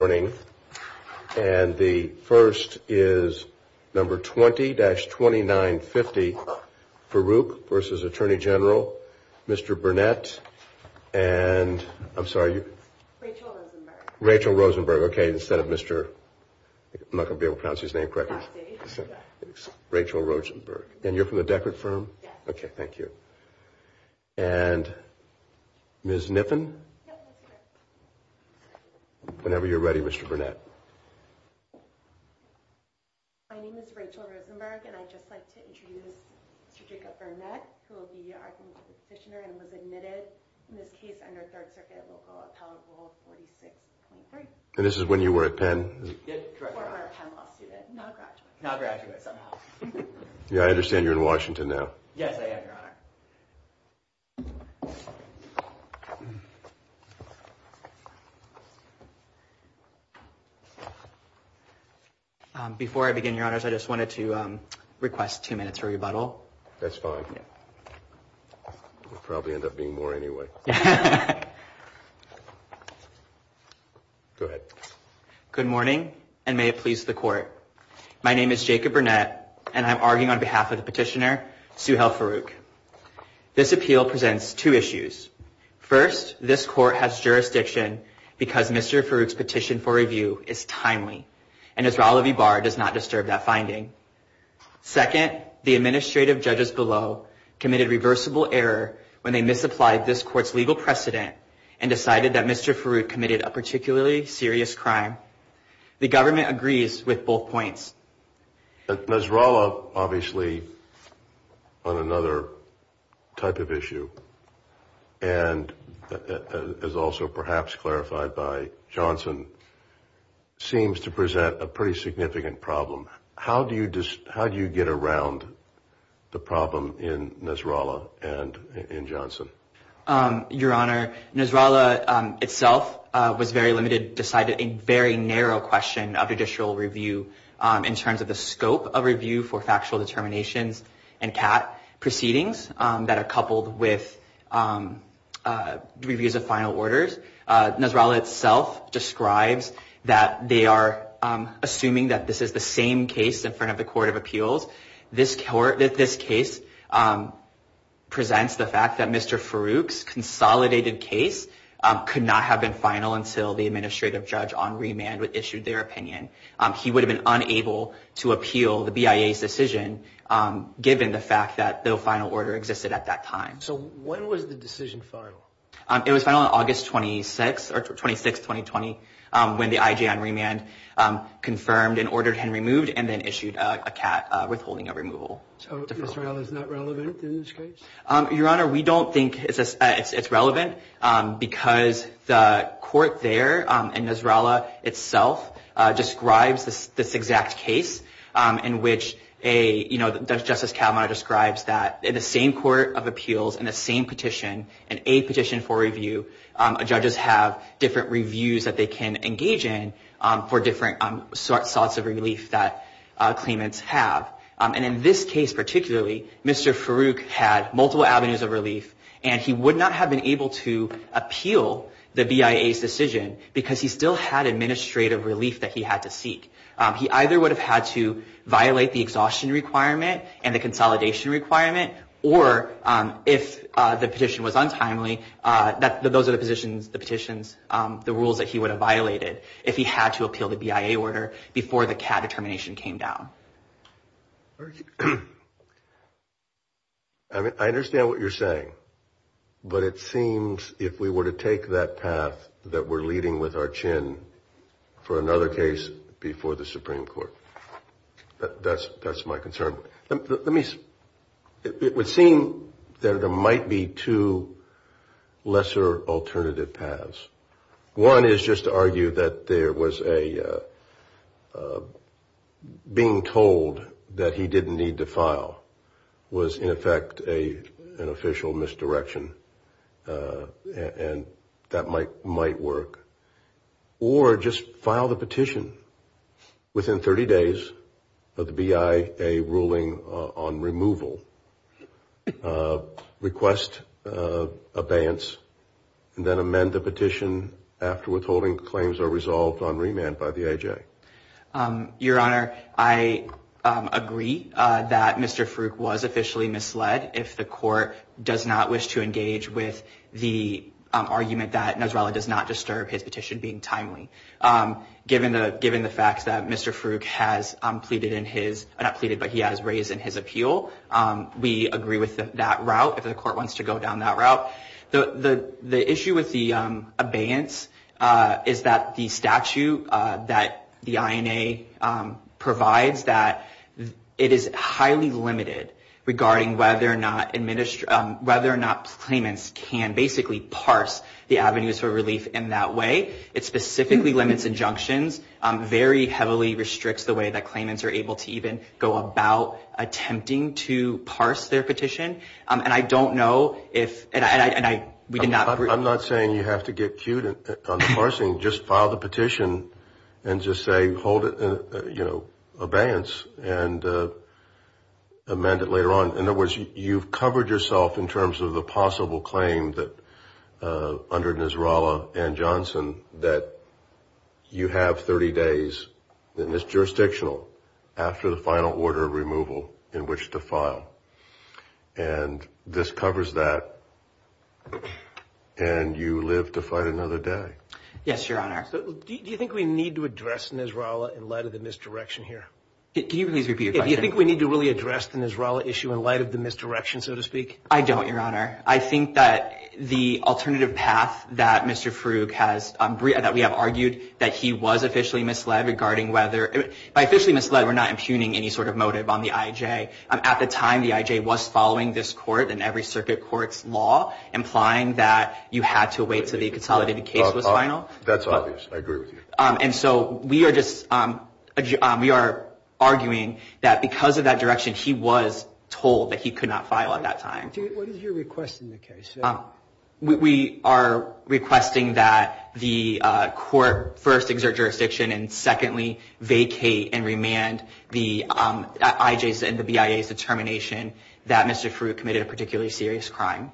And the first is number 20-2950, Farooq vs. Attorney General, Mr. Burnett and I'm sorry. Rachel Rosenberg. Rachel Rosenberg, okay, instead of Mr. I'm not going to be able to pronounce his name correctly. Rachel Rosenberg. And you're from the Deckard firm? Yes. Okay, thank you. And Ms. Kniffen? Yes, that's correct. Whenever you're ready, Mr. Burnett. My name is Rachel Rosenberg and I'd just like to introduce Mr. Jacob Burnett, who will be our next petitioner and was admitted in this case under Third Circuit local appellate rule 46.3. And this is when you were at Penn? Yes, correct, Your Honor. Former Penn Law student, now a graduate. Now a graduate, somehow. Yeah, I understand you're in Washington now. Yes, I am, Your Honor. Before I begin, Your Honors, I just wanted to request two minutes for rebuttal. That's fine. It'll probably end up being more anyway. Go ahead. Good morning and may it please the Court. My name is Jacob Burnett and I'm arguing on behalf of the petitioner, Suhail Farooq. This appeal presents two issues. First, this Court has jurisdiction because Mr. Farooq's petition for review is timely and Nasrallah V. Barr does not disturb that finding. Second, the administrative judges below committed reversible error when they misapplied this Court's legal precedent and decided that Mr. Farooq committed a particularly serious crime. The government agrees with both points. Nasrallah, obviously, on another type of issue, and as also perhaps clarified by Johnson, seems to present a pretty significant problem. How do you get around the problem in Nasrallah and in Johnson? Your Honor, Nasrallah itself was very limited, decided a very narrow question of judicial review in terms of the scope of review for factual determinations and CAT proceedings that are coupled with reviews of final orders. Nasrallah itself describes that they are assuming that this is the same case in front of the Court of Appeals. This case presents the fact that Mr. Farooq's consolidated case could not have been final until the administrative judge on remand issued their opinion. He would have been unable to appeal the BIA's decision given the fact that no final order existed at that time. So when was the decision final? It was final on August 26, 2020, when the IJ on remand confirmed and ordered him removed and then issued a CAT withholding of removal. So Nasrallah is not relevant in this case? Your Honor, we don't think it's relevant because the court there and Nasrallah itself describes this exact case in which Justice Cavanaugh describes that in the same Court of Appeals and the same petition, an A petition for review, judges have different reviews that they can engage in for different sorts of relief that claimants have. And in this case particularly, Mr. Farooq had multiple avenues of relief and he would not have been able to appeal the BIA's decision because he still had administrative relief that he had to seek. He either would have had to violate the exhaustion requirement and the consolidation requirement or if the petition was untimely, those are the positions, the petitions, the rules that he would have violated if he had to appeal the BIA order before the CAT determination came down. I understand what you're saying, but it seems if we were to take that path that we're leading with our chin for another case before the Supreme Court, that's my concern. It would seem that there might be two lesser alternative paths. One is just to argue that being told that he didn't need to file was in effect an official misdirection and that might work. Or just file the petition within 30 days of the BIA ruling on removal, request abeyance, and then amend the petition after withholding claims are resolved on remand by the IJ. Your Honor, I agree that Mr. Farooq was officially misled if the court does not wish to engage with the argument that Nasrallah does not disturb his petition being timely. Given the fact that Mr. Farooq has raised in his appeal, we agree with that route if the court wants to go down that route. The issue with the abeyance is that the statute that the INA provides that it is highly limited regarding whether or not claimants can basically parse the avenues for relief in that way. It specifically limits injunctions, very heavily restricts the way that claimants are able to even go about attempting to parse their petition. I'm not saying you have to get cued on the parsing. Just file the petition and just say hold it, you know, abeyance, and amend it later on. In other words, you've covered yourself in terms of the possible claim under Nasrallah and Johnson that you have 30 days, and it's jurisdictional, after the final order of removal in which to file. And this covers that, and you live to fight another day. Yes, Your Honor. Do you think we need to address Nasrallah in light of the misdirection here? Can you please repeat your question? Do you think we need to really address the Nasrallah issue in light of the misdirection, so to speak? I don't, Your Honor. I think that the alternative path that Mr. Frug has, that we have argued that he was officially misled regarding whether, by officially misled, we're not impugning any sort of motive on the IJ. At the time, the IJ was following this court and every circuit court's law, implying that you had to wait until the consolidated case was final. That's obvious. I agree with you. And so we are just, we are arguing that because of that direction, he was told that he could not file at that time. What is your request in the case? We are requesting that the court first exert jurisdiction and secondly vacate and remand the IJ's and the BIA's determination that Mr. Frug committed a particularly serious crime.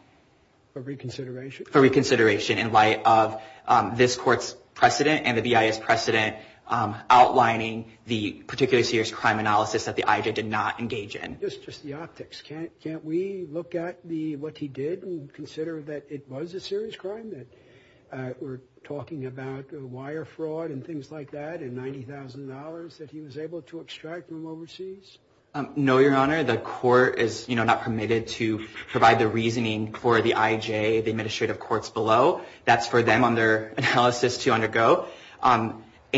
For reconsideration? For reconsideration in light of this court's precedent and the BIA's precedent outlining the particularly serious crime analysis that the IJ did not engage in. Just the optics. Can't we look at what he did and consider that it was a serious crime, that we're talking about wire fraud and things like that and $90,000 that he was able to extract from overseas? No, Your Honor. The court is not permitted to provide the reasoning for the IJ, the administrative courts below. That's for them on their analysis to undergo.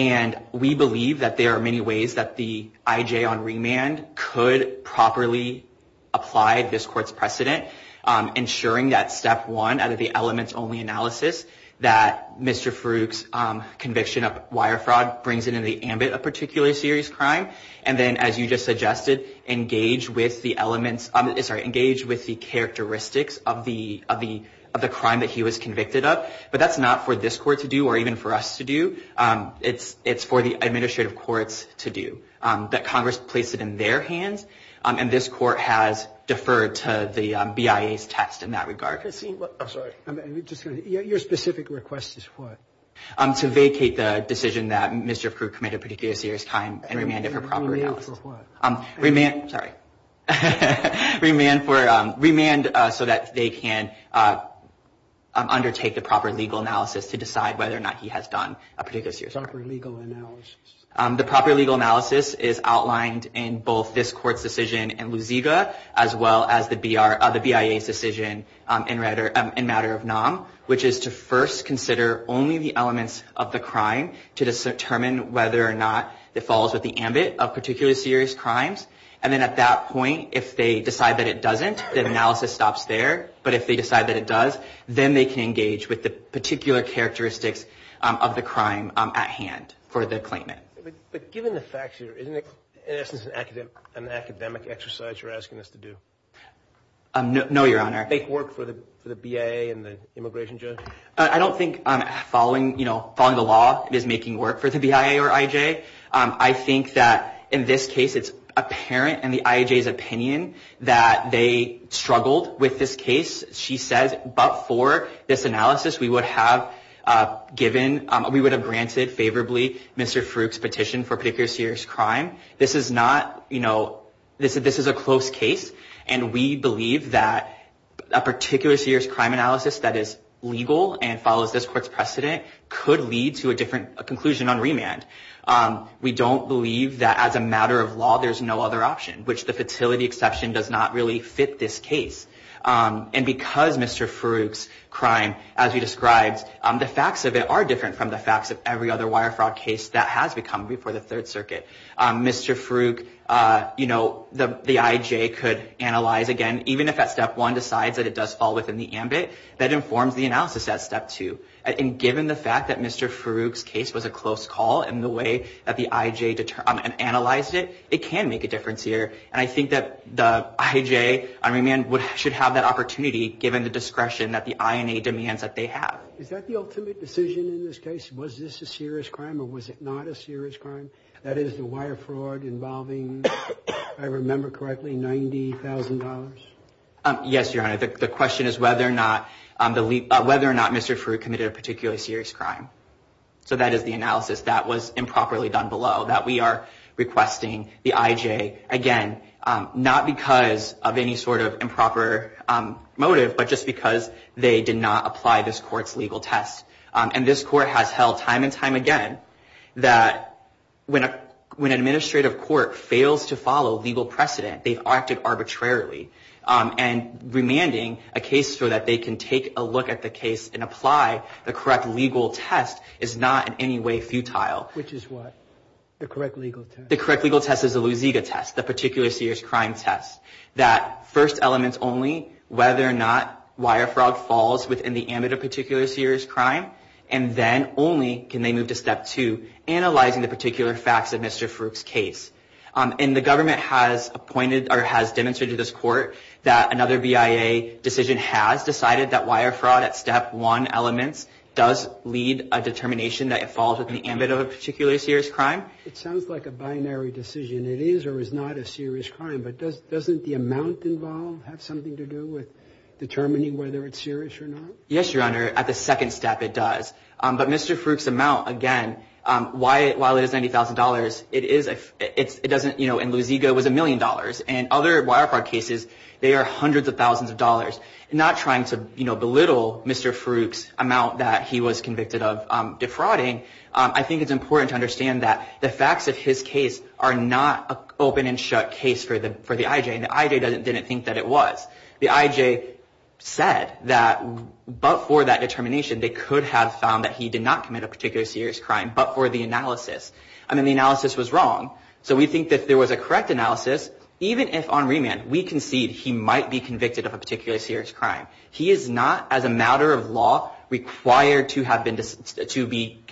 And we believe that there are many ways that the IJ on remand could properly apply this court's precedent, ensuring that step one out of the elements only analysis that Mr. Frug's conviction of wire fraud brings into the ambit of particularly serious crime. And then, as you just suggested, engage with the elements, sorry, engage with the characteristics of the crime that he was convicted of. But that's not for this court to do or even for us to do. It's for the administrative courts to do. That Congress place it in their hands, and this court has deferred to the BIA's test in that regard. I'm sorry. Your specific request is what? To vacate the decision that Mr. Frug committed particularly serious crime and remand it for proper analysis. Remand for what? To decide whether or not he has done a particular serious crime. Proper legal analysis. The proper legal analysis is outlined in both this court's decision and Luziga, as well as the BIA's decision in matter of NAM, which is to first consider only the elements of the crime to determine whether or not it falls with the ambit of particularly serious crimes. And then at that point, if they decide that it doesn't, then analysis stops there. But if they decide that it does, then they can engage with the particular characteristics of the crime at hand for the claimant. But given the facts here, isn't it in essence an academic exercise you're asking us to do? No, Your Honor. Make work for the BIA and the immigration judge? I don't think following the law is making work for the BIA or IJ. I think that in this case, it's apparent in the IJ's opinion that they struggled with this case, she says. But for this analysis, we would have given, we would have granted favorably Mr. Frug's petition for particular serious crime. This is not, you know, this is a close case. And we believe that a particular serious crime analysis that is legal and follows this court's precedent could lead to a different conclusion on remand. We don't believe that as a matter of law, there's no other option, which the fatality exception does not really fit this case. And because Mr. Frug's crime, as you described, the facts of it are different from the facts of every other wire fraud case that has become before the Third Circuit. Mr. Frug, you know, the IJ could analyze again, even if at step one decides that it does fall within the ambit, that informs the analysis at step two. And given the fact that Mr. Frug's case was a close call in the way that the IJ analyzed it, it can make a difference here. And I think that the IJ on remand should have that opportunity given the discretion that the INA demands that they have. Is that the ultimate decision in this case? Was this a serious crime or was it not a serious crime? That is the wire fraud involving, if I remember correctly, $90,000? Yes, Your Honor. The question is whether or not Mr. Frug committed a particularly serious crime. So that is the analysis that was improperly done below, that we are requesting the IJ again, not because of any sort of improper motive, but just because they did not apply this court's legal test. And this court has held time and time again that when an administrative court fails to follow legal precedent, they've acted arbitrarily. And remanding a case so that they can take a look at the case and apply the correct legal test is not in any way futile. Which is what? The correct legal test? The correct legal test is the Lusiga test, the particularly serious crime test. That first elements only, whether or not wire fraud falls within the ambit of a particular serious crime, and then only can they move to step two, analyzing the particular facts of Mr. Frug's case. And the government has appointed or has demonstrated to this court that another BIA decision has decided that wire fraud at step one elements does lead a determination that it falls within the ambit of a particular serious crime. It sounds like a binary decision. It is or is not a serious crime. But doesn't the amount involved have something to do with determining whether it's serious or not? Yes, Your Honor, at the second step it does. But Mr. Frug's amount, again, while it is $90,000, it doesn't, you know, and Lusiga was $1 million. And other wire fraud cases, they are hundreds of thousands of dollars. Not trying to, you know, belittle Mr. Frug's amount that he was convicted of defrauding, I think it's important to understand that the facts of his case are not an open and shut case for the IJ. And the IJ didn't think that it was. The IJ said that but for that determination they could have found that he did not commit a particular serious crime, but for the analysis. I mean, the analysis was wrong. So we think that if there was a correct analysis, even if on remand we concede he might be convicted of a particular serious crime, he is not, as a matter of law, required to be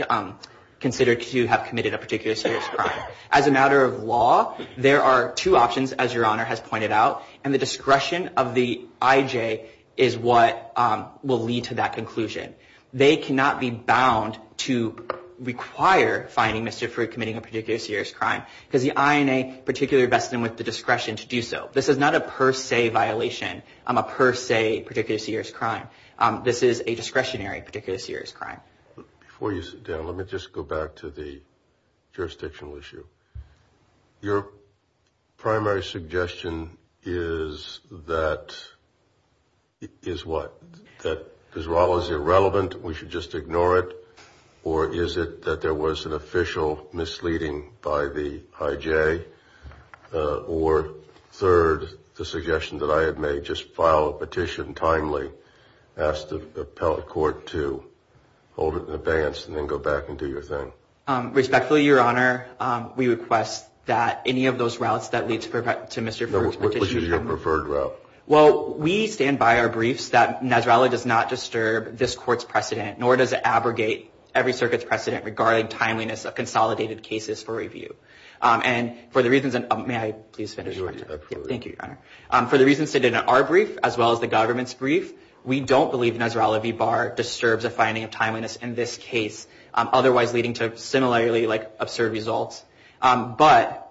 considered to have committed a particular serious crime. As a matter of law, there are two options, as Your Honor has pointed out, and the discretion of the IJ is what will lead to that conclusion. They cannot be bound to require fining Mr. Frug for committing a particular serious crime because the INA particularly vested him with the discretion to do so. This is not a per se violation. I'm a per se particular serious crime. This is a discretionary particular serious crime. Before you sit down, let me just go back to the jurisdictional issue. Your primary suggestion is that, is what? That as well as irrelevant, we should just ignore it? Or is it that there was an official misleading by the IJ? Or third, the suggestion that I had made, just file a petition timely, ask the appellate court to hold it in abeyance and then go back and do your thing? Respectfully, Your Honor, we request that any of those routes that lead to Mr. Frug's petition Which is your preferred route? Well, we stand by our briefs that Nasrallah does not disturb this court's precedent, nor does it abrogate every circuit's precedent regarding timeliness of consolidated cases for review. And for the reasons, may I please finish? Thank you, Your Honor. For the reasons stated in our brief, as well as the government's brief, we don't believe Nasrallah v. Barr disturbs the finding of timeliness in this case, otherwise leading to similarly absurd results. But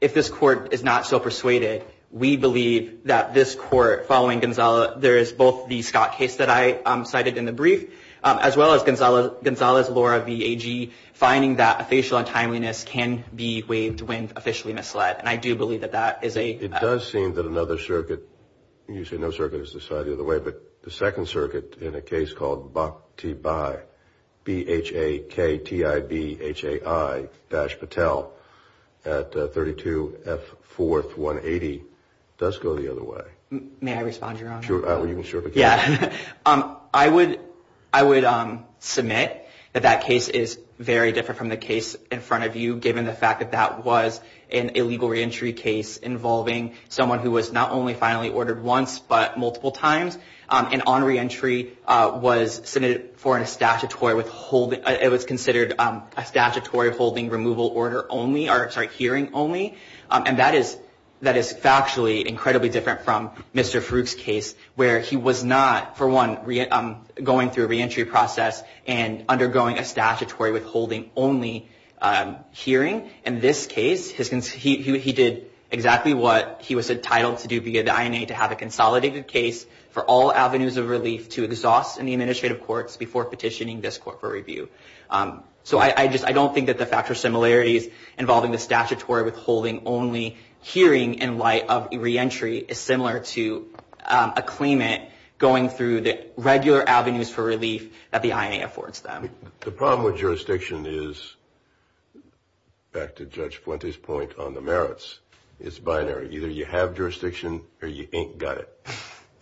if this court is not so persuaded, we believe that this court, following Gonzalo, there is both the Scott case that I cited in the brief, as well as Gonzalo's Laura v. AG, finding that a facial untimeliness can be waived when officially misled. And I do believe that that is a... It does seem that another circuit, you say no circuit is decided the other way, but the second circuit in a case called Bhakthibhai, B-H-A-K-T-I-B-H-A-I-Patel, at 32 F. 4th, 180, does go the other way. May I respond, Your Honor? Sure, you can sure begin. Yeah. I would submit that that case is very different from the case in front of you, given the fact that that was an illegal reentry case involving someone who was not only finally ordered once, but multiple times, and on reentry was submitted for a statutory withholding. It was considered a statutory holding removal order only, or sorry, hearing only. And that is factually incredibly different from Mr. Farouk's case, where he was not, for one, going through a reentry process and undergoing a statutory withholding only hearing. In this case, he did exactly what he was entitled to do via the INA, to have a consolidated case for all avenues of relief to exhaust in the administrative courts before petitioning this court for review. So I don't think that the factual similarities involving the statutory withholding only hearing in light of reentry is similar to a claimant going through the regular avenues for relief that the INA affords them. The problem with jurisdiction is, back to Judge Fuente's point on the merits, it's binary. Either you have jurisdiction or you ain't got it.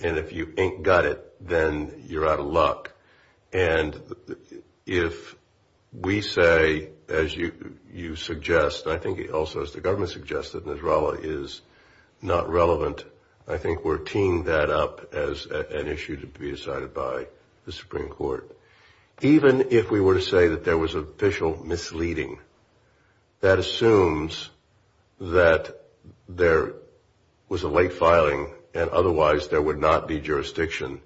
And if you ain't got it, then you're out of luck. And if we say, as you suggest, and I think also as the government suggests, that Nisrallah is not relevant, I think we're teeing that up as an issue to be decided by the Supreme Court. Even if we were to say that there was official misleading, that assumes that there was a late filing and otherwise there would not be jurisdiction.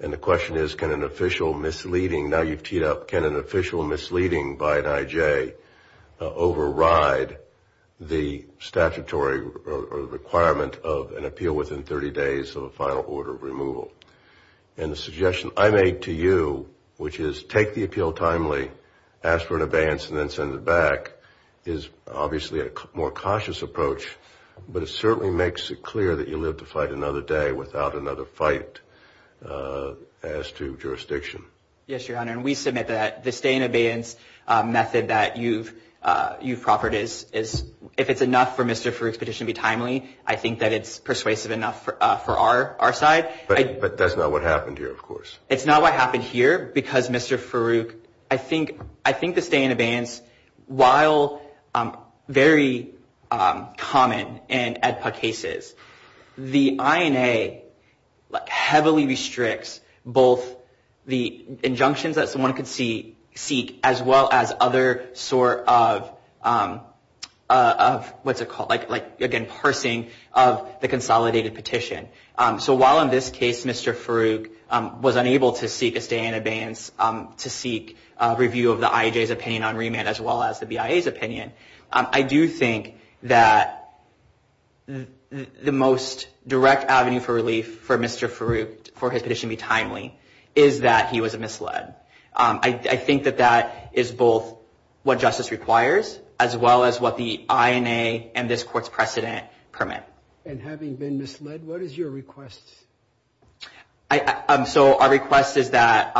And the question is, can an official misleading, now you've teed up, can an official misleading by an IJ override the statutory requirement of an appeal within 30 days of a final order of removal? And the suggestion I made to you, which is take the appeal timely, ask for an abeyance, and then send it back, is obviously a more cautious approach, but it certainly makes it clear that you live to fight another day without another fight as to jurisdiction. Yes, Your Honor, and we submit that the stay in abeyance method that you've proffered is, if it's enough for Mr. Farouk's petition to be timely, I think that it's persuasive enough for our side. But that's not what happened here, of course. It's not what happened here because, Mr. Farouk, I think the stay in abeyance, while very common in AEDPA cases, the INA heavily restricts both the injunctions that someone could seek as well as other sort of, what's it called, like, again, parsing of the consolidated petition. So while in this case Mr. Farouk was unable to seek a stay in abeyance to seek review of the IAJ's opinion on remand as well as the BIA's opinion, I do think that the most direct avenue for relief for Mr. Farouk for his petition to be timely is that he was misled. I think that that is both what justice requires as well as what the INA and this Court's precedent permit. And having been misled, what is your request? So our request is that,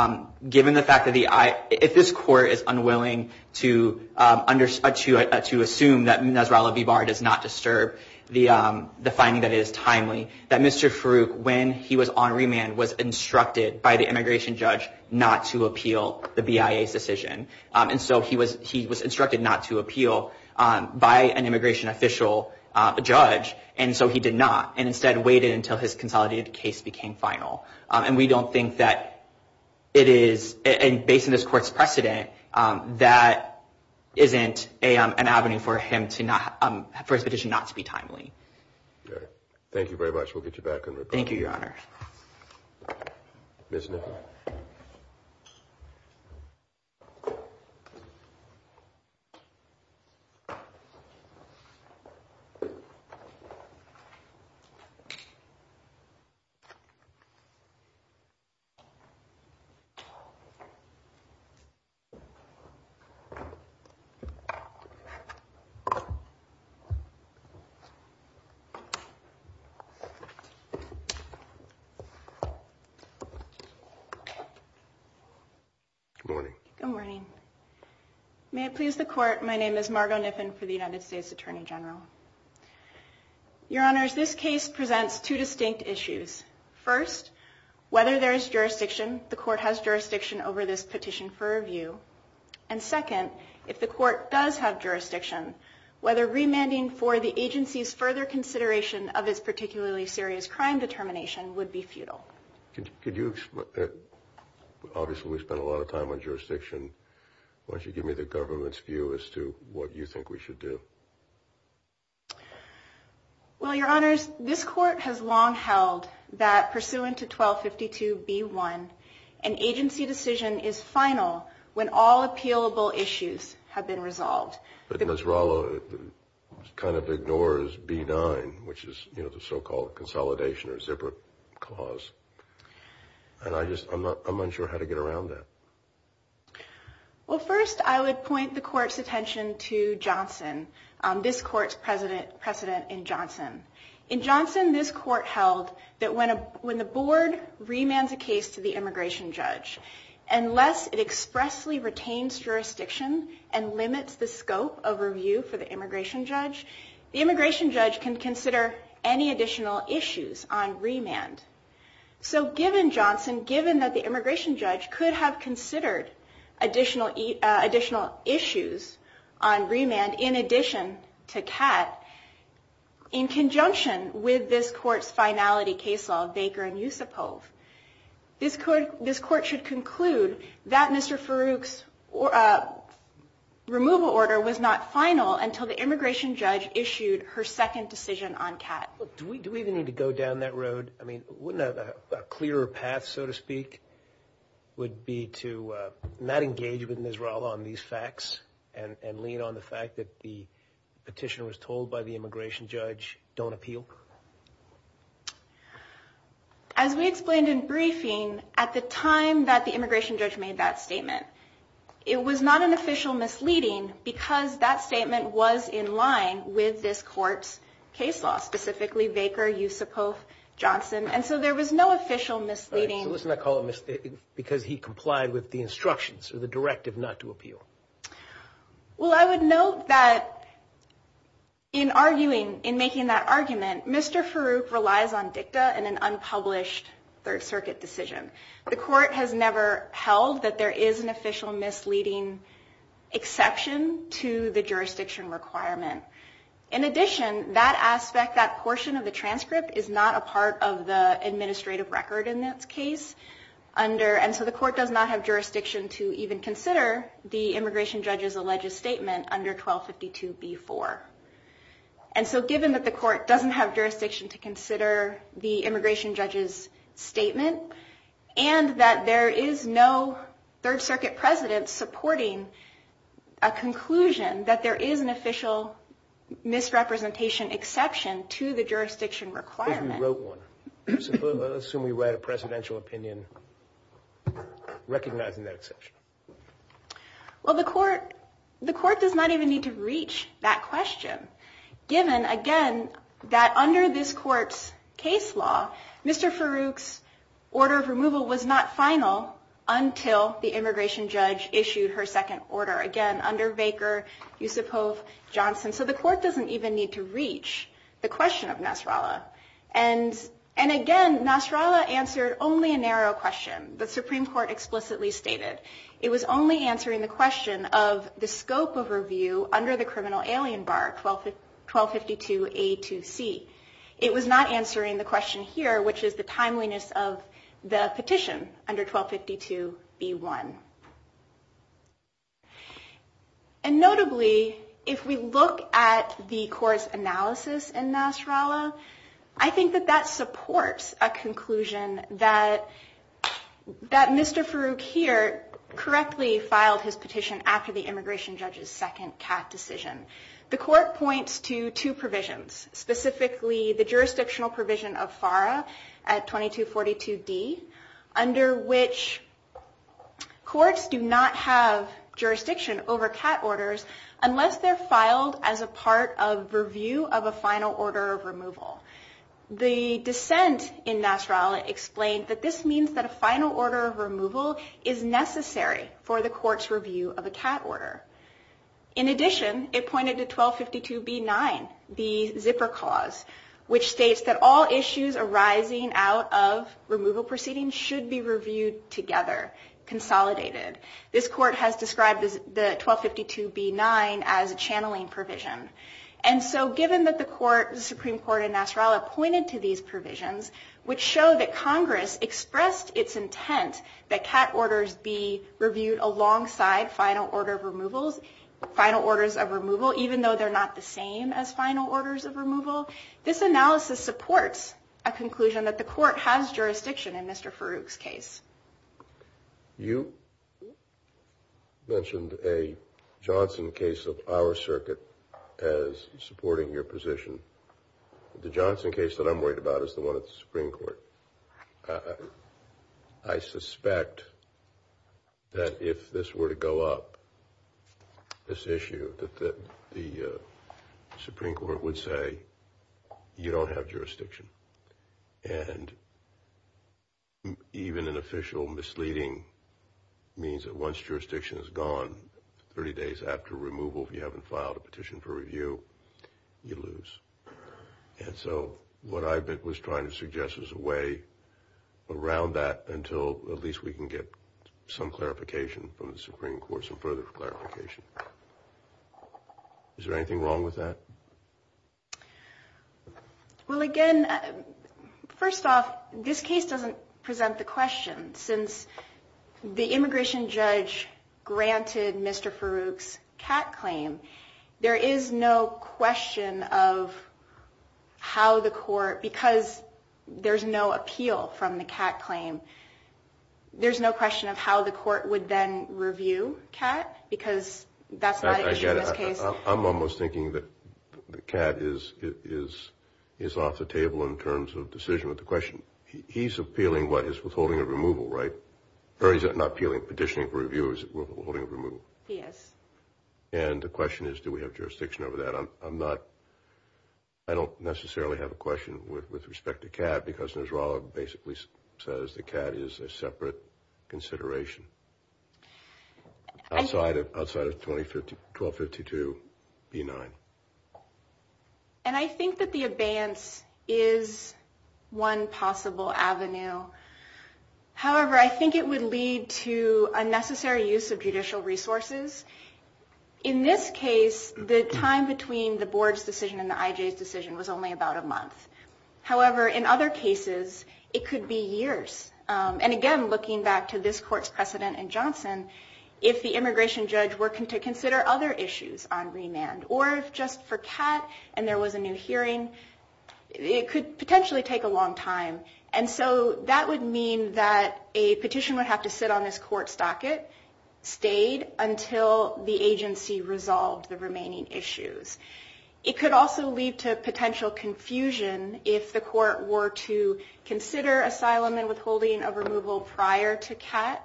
given the fact that the I— if this Court is unwilling to assume that Nasrallah Bibar does not disturb the finding that it is timely, that Mr. Farouk, when he was on remand, was instructed by the immigration judge not to appeal the BIA's decision. And so he was instructed not to appeal by an immigration official, a judge, and so he did not and instead waited until his consolidated case became final. And we don't think that it is, based on this Court's precedent, that isn't an avenue for him to not— for his petition not to be timely. All right. Thank you very much. We'll get you back on record. Thank you, Your Honor. Ms. Nichol. Thank you, Your Honor. Good morning. Good morning. May it please the Court, my name is Margo Niffin for the United States Attorney General. Your Honors, this case presents two distinct issues. First, whether there is jurisdiction, the Court has jurisdiction over this petition for review. And second, if the Court does have jurisdiction, whether remanding for the agency's further consideration of its particularly serious crime determination would be futile. Could you—obviously we've spent a lot of time on jurisdiction. Why don't you give me the government's view as to what you think we should do? Well, Your Honors, this Court has long held that pursuant to 1252B1, an agency decision is final when all appealable issues have been resolved. But Nasrallah kind of ignores B9, which is, you know, the so-called consolidation or zipper clause. And I just—I'm not—I'm unsure how to get around that. Well, first I would point the Court's attention to Johnson, this Court's precedent in Johnson. In Johnson, this Court held that when the board remands a case to the immigration judge, unless it expressly retains jurisdiction and limits the scope of review for the immigration judge, the immigration judge can consider any additional issues on remand. So given Johnson, given that the immigration judge could have considered additional issues on remand in addition to Kat, in conjunction with this Court's finality case law, Baker and Yusupov, this Court should conclude that Mr. Farouk's removal order was not final until the immigration judge issued her second decision on Kat. Do we even need to go down that road? I mean, wouldn't a clearer path, so to speak, would be to not engage with Nasrallah on these facts and lean on the fact that the petitioner was told by the immigration judge, don't appeal? As we explained in briefing, at the time that the immigration judge made that statement, it was not an official misleading because that statement was in line with this Court's case law, specifically Baker, Yusupov, Johnson, and so there was no official misleading. All right, so let's not call it misleading because he complied with the instructions or the directive not to appeal. Well, I would note that in arguing, in making that argument, Mr. Farouk relies on dicta and an unpublished Third Circuit decision. The Court has never held that there is an official misleading exception to the jurisdiction requirement. In addition, that aspect, that portion of the transcript is not a part of the administrative record in this case. And so the Court does not have jurisdiction to even consider the immigration judge's alleged statement under 1252b-4. And so given that the Court doesn't have jurisdiction to consider the immigration judge's statement and that there is no Third Circuit president supporting a conclusion that there is an official misrepresentation exception to the jurisdiction requirement. Suppose we wrote one. Suppose we wrote a presidential opinion recognizing that exception. Well, the Court does not even need to reach that question, given, again, that under this Court's case law, Mr. Farouk's order of removal was not final until the immigration judge issued her second order, again, under Baker, Yusupov, Johnson. So the Court doesn't even need to reach the question of Nasrallah. And again, Nasrallah answered only a narrow question. The Supreme Court explicitly stated it was only answering the question of the scope of review under the criminal alien bar, 1252a-2c. It was not answering the question here, which is the timeliness of the petition under 1252b-1. And notably, if we look at the Court's analysis in Nasrallah, I think that that supports a conclusion that Mr. Farouk here correctly filed his petition after the immigration judge's second CAF decision. The Court points to two provisions, specifically the jurisdictional provision of FARA at 2242d, under which courts do not have jurisdiction over CAT orders unless they're filed as a part of review of a final order of removal. The dissent in Nasrallah explained that this means that a final order of removal is necessary for the Court's review of a CAT order. In addition, it pointed to 1252b-9, the zipper clause, which states that all issues arising out of removal proceedings should be reviewed together, consolidated. This Court has described the 1252b-9 as a channeling provision. And so given that the Supreme Court in Nasrallah pointed to these provisions, which show that Congress expressed its intent that CAT orders be reviewed alongside final orders of removal, even though they're not the same as final orders of removal, this analysis supports a conclusion that the Court has jurisdiction in Mr. Farouk's case. You mentioned a Johnson case of our circuit as supporting your position. The Johnson case that I'm worried about is the one at the Supreme Court. I suspect that if this were to go up, this issue, that the Supreme Court would say you don't have jurisdiction. And even an official misleading means that once jurisdiction is gone, 30 days after removal, if you haven't filed a petition for review, you lose. And so what I was trying to suggest is a way around that until at least we can get some clarification from the Supreme Court, some further clarification. Is there anything wrong with that? Well, again, first off, this case doesn't present the question. Since the immigration judge granted Mr. Farouk's CAT claim, there is no question of how the court, because there's no appeal from the CAT claim, there's no question of how the court would then review CAT, because that's not an issue in this case. I'm almost thinking that CAT is off the table in terms of decision of the question. He's appealing, what, his withholding of removal, right? Or he's not appealing, petitioning for review, is withholding of removal? Yes. And the question is, do we have jurisdiction over that? I'm not, I don't necessarily have a question with respect to CAT, because Nesrolla basically says the CAT is a separate consideration outside of 1252 B-9. And I think that the abeyance is one possible avenue. However, I think it would lead to unnecessary use of judicial resources. In this case, the time between the board's decision and the IJ's decision was only about a month. However, in other cases, it could be years. And, again, looking back to this court's precedent in Johnson, if the immigration judge were to consider other issues on remand, or if just for CAT and there was a new hearing, it could potentially take a long time. And so that would mean that a petition would have to sit on this court's docket, stayed until the agency resolved the remaining issues. It could also lead to potential confusion if the court were to consider asylum and withholding of removal prior to CAT.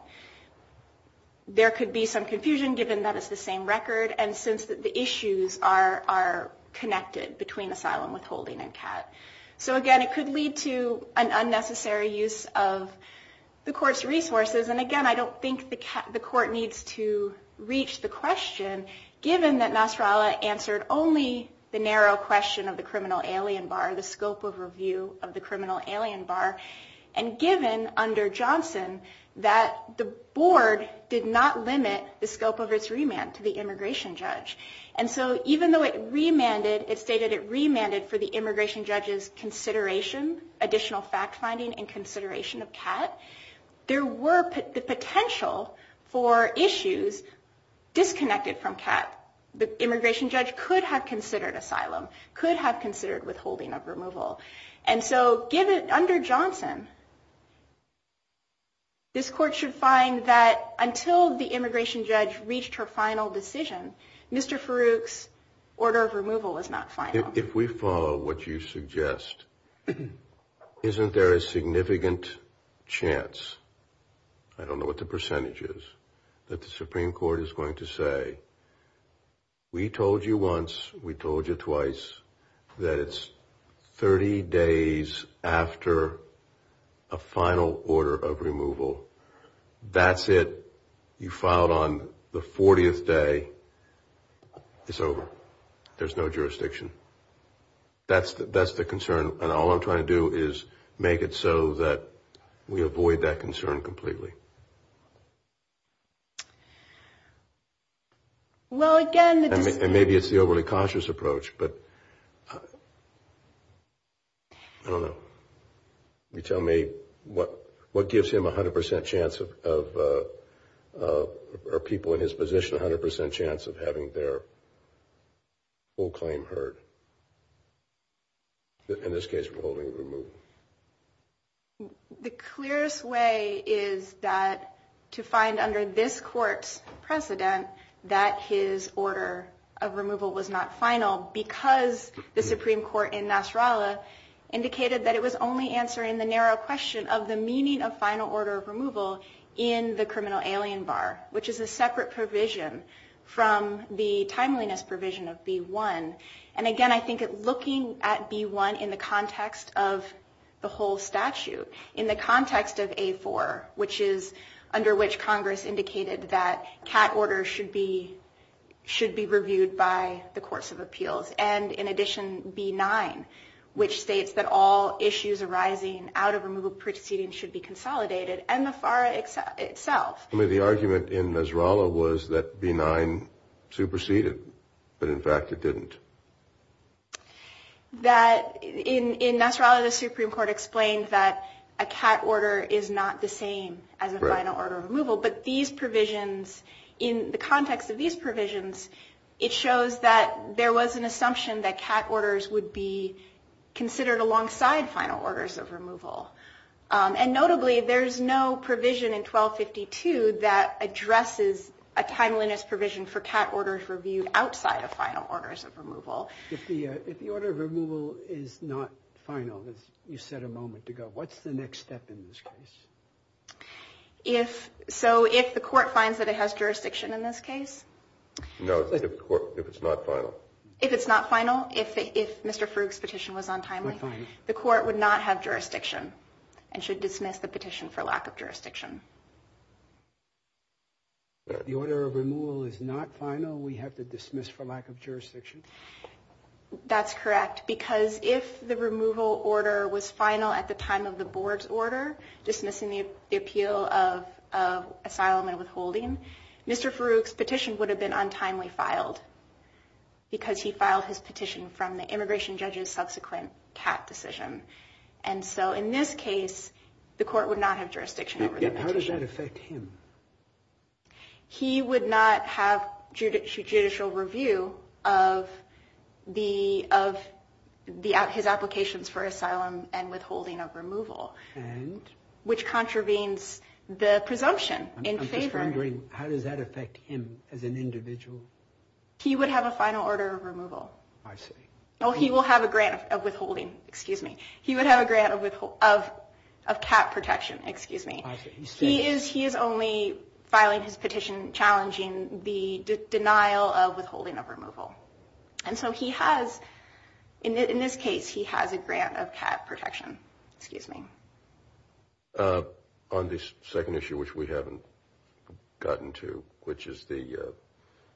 There could be some confusion, given that it's the same record, and since the issues are connected between asylum, withholding, and CAT. So, again, it could lead to an unnecessary use of the court's resources. And, again, I don't think the court needs to reach the question, given that Nesrolla answered only the narrow question of the criminal alien bar, the scope of review of the criminal alien bar, and given, under Johnson, that the board did not limit the scope of its remand to the immigration judge. And so even though it remanded, it stated it remanded for the immigration judge's consideration, additional fact-finding, and consideration of CAT, there were the potential for issues disconnected from CAT. The immigration judge could have considered asylum, could have considered withholding of removal. And so, under Johnson, this court should find that until the immigration judge reached her final decision, Mr. Farooq's order of removal was not final. If we follow what you suggest, isn't there a significant chance, I don't know what the percentage is, that the Supreme Court is going to say, we told you once, we told you twice, that it's 30 days after a final order of removal. That's it. You filed on the 40th day. It's over. There's no jurisdiction. That's the concern. And all I'm trying to do is make it so that we avoid that concern completely. And maybe it's the overly cautious approach, but I don't know. You tell me what gives him 100% chance of, or people in his position, 100% chance of having their full claim heard. In this case, withholding of removal. The clearest way is that to find under this court's precedent that his order of removal was not final because the Supreme Court in Nasrallah indicated that it was only answering the narrow question of the meaning of final order of removal in the criminal alien bar, which is a separate provision from the timeliness provision of B1. And again, I think looking at B1 in the context of the whole statute, in the context of A4, which is under which Congress indicated that CAT orders should be reviewed by the courts of appeals, and in addition, B9, which states that all issues arising out of removal proceedings should be consolidated, and the FAR itself. The argument in Nasrallah was that B9 superseded, but in fact it didn't. In Nasrallah, the Supreme Court explained that a CAT order is not the same as a final order of removal, but these provisions, in the context of these provisions, it shows that there was an assumption that CAT orders would be considered alongside final orders of removal. And notably, there's no provision in 1252 that addresses a timeliness provision for CAT orders reviewed outside of final orders of removal. If the order of removal is not final, as you said a moment ago, what's the next step in this case? So if the court finds that it has jurisdiction in this case? No, if it's not final. If it's not final, if Mr. Frug's petition was untimely, the court would not have jurisdiction. And should dismiss the petition for lack of jurisdiction. If the order of removal is not final, we have to dismiss for lack of jurisdiction? That's correct, because if the removal order was final at the time of the board's order, dismissing the appeal of asylum and withholding, Mr. Frug's petition would have been untimely filed, because he filed his petition from the immigration judge's subsequent CAT decision. And so in this case, the court would not have jurisdiction over the petition. How does that affect him? He would not have judicial review of his applications for asylum and withholding of removal. And? Which contravenes the presumption in favor. I'm just wondering, how does that affect him as an individual? He would have a final order of removal. I see. Well, he will have a grant of withholding, excuse me. He would have a grant of CAT protection, excuse me. He is only filing his petition challenging the denial of withholding of removal. And so he has, in this case, he has a grant of CAT protection, excuse me. On this second issue, which we haven't gotten to, which is the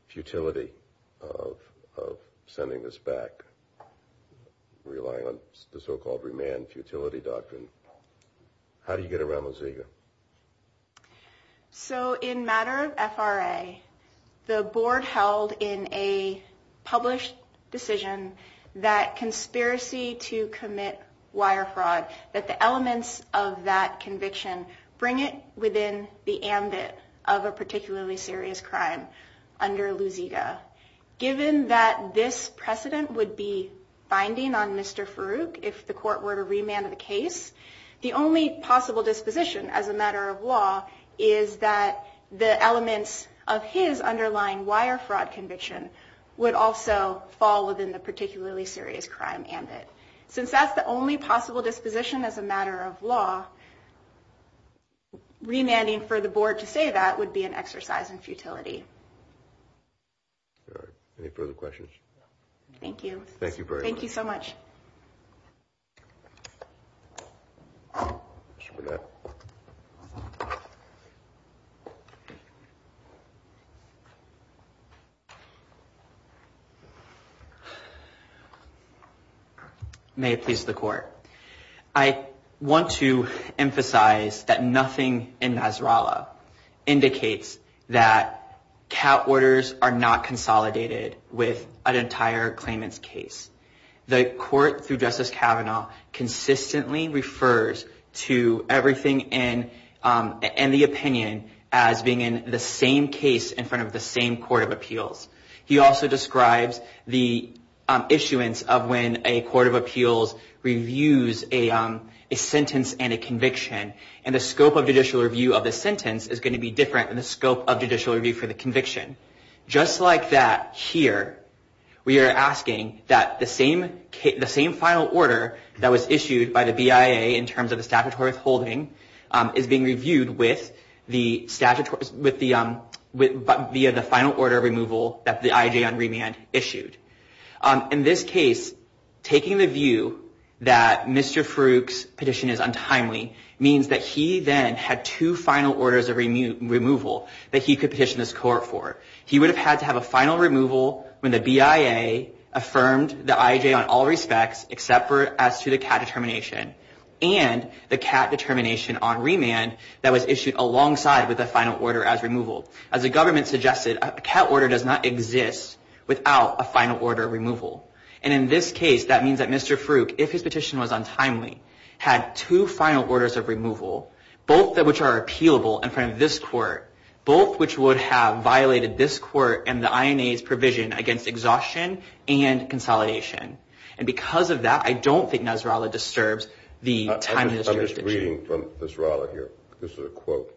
futility of sending this back, relying on the so-called remand futility doctrine, how do you get around Mozega? So in matter of FRA, the board held in a published decision that conspiracy to commit wire fraud, that the elements of that conviction bring it within the ambit of a particularly serious crime under Mozega. Given that this precedent would be binding on Mr. Farooq if the court were to remand the case, the only possible disposition as a matter of law is that the elements of his underlying wire fraud conviction would also fall within the particularly serious crime ambit. Since that's the only possible disposition as a matter of law, remanding for the board to say that would be an exercise in futility. All right. Any further questions? Thank you. Thank you very much. Thank you so much. May it please the court. I want to emphasize that nothing in Nasrallah indicates that CAT orders are not consolidated with an entire claimant's case. The court, through Justice Kavanaugh, consistently refers to everything in the opinion as being in the same case in front of the same court of appeals. He also describes the issuance of when a court of appeals reviews a sentence and a conviction, and the scope of judicial review of the sentence is going to be different than the scope of judicial review for the conviction. Just like that here, we are asking that the same final order that was issued by the BIA in terms of the statutory withholding is being reviewed via the final order removal that the IJ on remand issued. In this case, taking the view that Mr. Farooq's petition is untimely means that he then had two final orders of removal that he could petition this court for. He would have had to have a final removal when the BIA affirmed the IJ on all respects except for as to the CAT determination and the CAT determination on remand that was issued alongside with the final order as removal. As the government suggested, a CAT order does not exist without a final order removal. In this case, that means that Mr. Farooq, if his petition was untimely, had two final orders of removal, both of which are appealable in front of this court, both of which would have violated this court and the INA's provision against exhaustion and consolidation. And because of that, I don't think Nasrallah disturbs the timing of this petition. I'm just reading from Nasrallah here. This is a quote.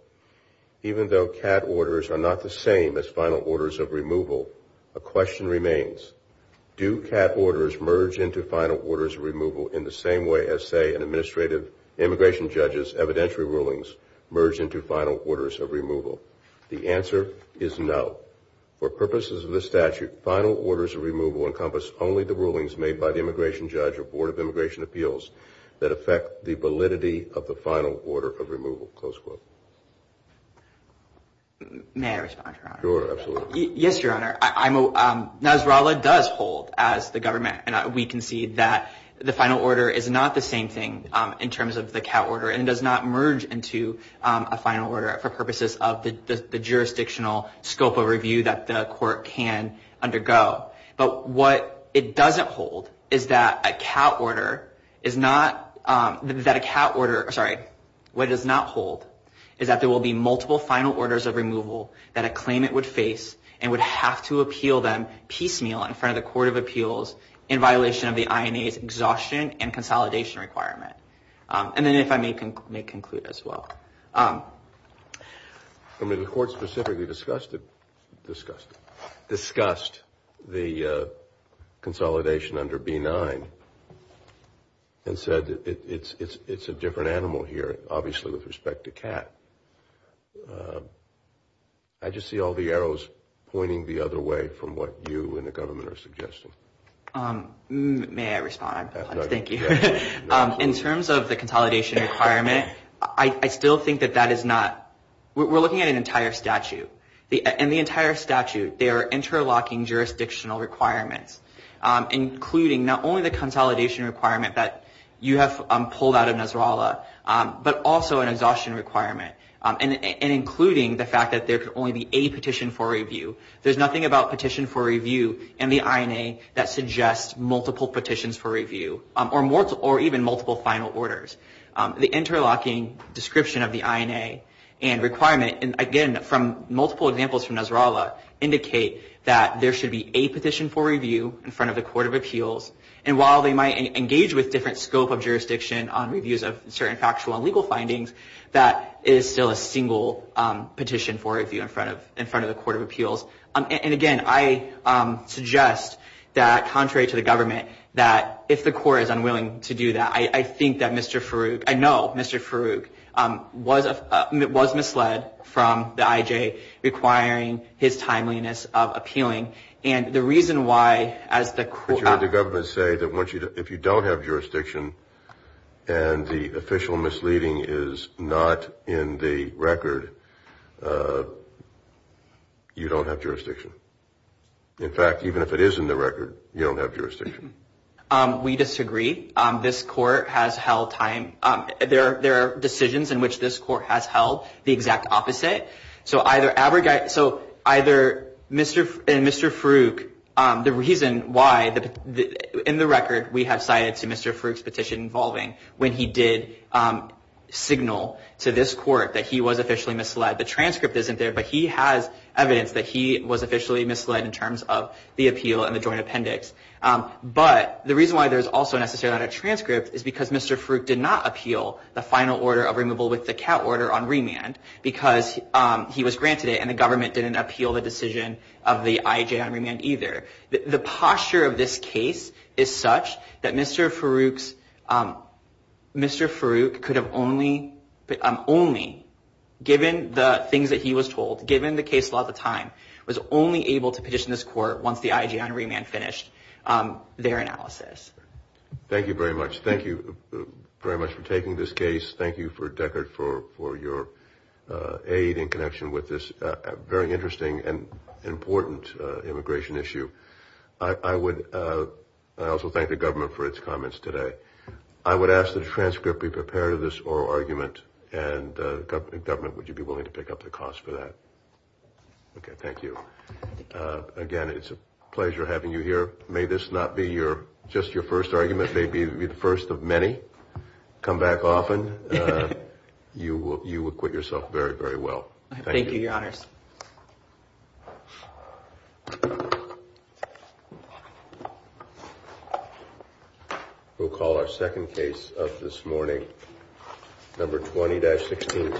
Even though CAT orders are not the same as final orders of removal, a question remains. Do CAT orders merge into final orders of removal in the same way as, say, an administrative immigration judge's evidentiary rulings merge into final orders of removal? The answer is no. For purposes of this statute, final orders of removal encompass only the rulings made by the immigration judge or Board of Immigration Appeals that affect the validity of the final order of removal, close quote. May I respond, Your Honor? Sure, absolutely. Yes, Your Honor. Nasrallah does hold, as the government and we concede, that the final order is not the same thing in terms of the CAT order and does not merge into a final order for purposes of the jurisdictional scope of review that the court can undergo. But what it does not hold is that there will be multiple final orders of removal that a claimant would face and would have to appeal them piecemeal in front of the Court of Appeals in violation of the INA's exhaustion and consolidation requirement. And then if I may conclude as well. The Court specifically discussed the consolidation under B-9 and said it's a different animal here, obviously, with respect to CAT. I just see all the arrows pointing the other way from what you and the government are suggesting. May I respond? Thank you. In terms of the consolidation requirement, I still think that that is not – we're looking at an entire statute. In the entire statute, they are interlocking jurisdictional requirements, including not only the consolidation requirement that you have pulled out of Nasrallah, but also an exhaustion requirement, and including the fact that there could only be a petition for review. There's nothing about petition for review and the INA that suggests multiple petitions for review or even multiple final orders. The interlocking description of the INA and requirement, and again, from multiple examples from Nasrallah, indicate that there should be a petition for review in front of the Court of Appeals. And while they might engage with different scope of jurisdiction on reviews of certain factual and legal findings, that is still a single petition for review in front of the Court of Appeals. And again, I suggest that, contrary to the government, that if the court is unwilling to do that, I think that Mr. Farooq – I know Mr. Farooq was misled from the IJ requiring his timeliness of appealing. And the reason why, as the – I think that you heard the government say that once you – if you don't have jurisdiction and the official misleading is not in the record, you don't have jurisdiction. In fact, even if it is in the record, you don't have jurisdiction. We disagree. This court has held time – there are decisions in which this court has held the exact opposite. So either Mr. Farooq – the reason why – in the record, we have cited to Mr. Farooq's petition involving when he did signal to this court that he was officially misled. The transcript isn't there, but he has evidence that he was officially misled in terms of the appeal and the joint appendix. But the reason why there's also necessarily not a transcript is because Mr. Farooq did not appeal the final order of removal with the CAT order on remand because he was granted it and the government didn't appeal the decision of the IJ on remand either. The posture of this case is such that Mr. Farooq's – Mr. Farooq could have only – only given the things that he was told, given the case law at the time, was only able to petition this court once the IJ on remand finished their analysis. Thank you very much. Thank you very much for taking this case. Thank you, Deckard, for your aid in connection with this very interesting and important immigration issue. I would – I also thank the government for its comments today. I would ask that a transcript be prepared of this oral argument, and the government – would you be willing to pick up the cost for that? Okay, thank you. Again, it's a pleasure having you here. May this not be your – just your first argument, may it be the first of many. Come back often. You will acquit yourself very, very well. Thank you. Thank you, Your Honors. We'll call our second case of this morning, number 20-16.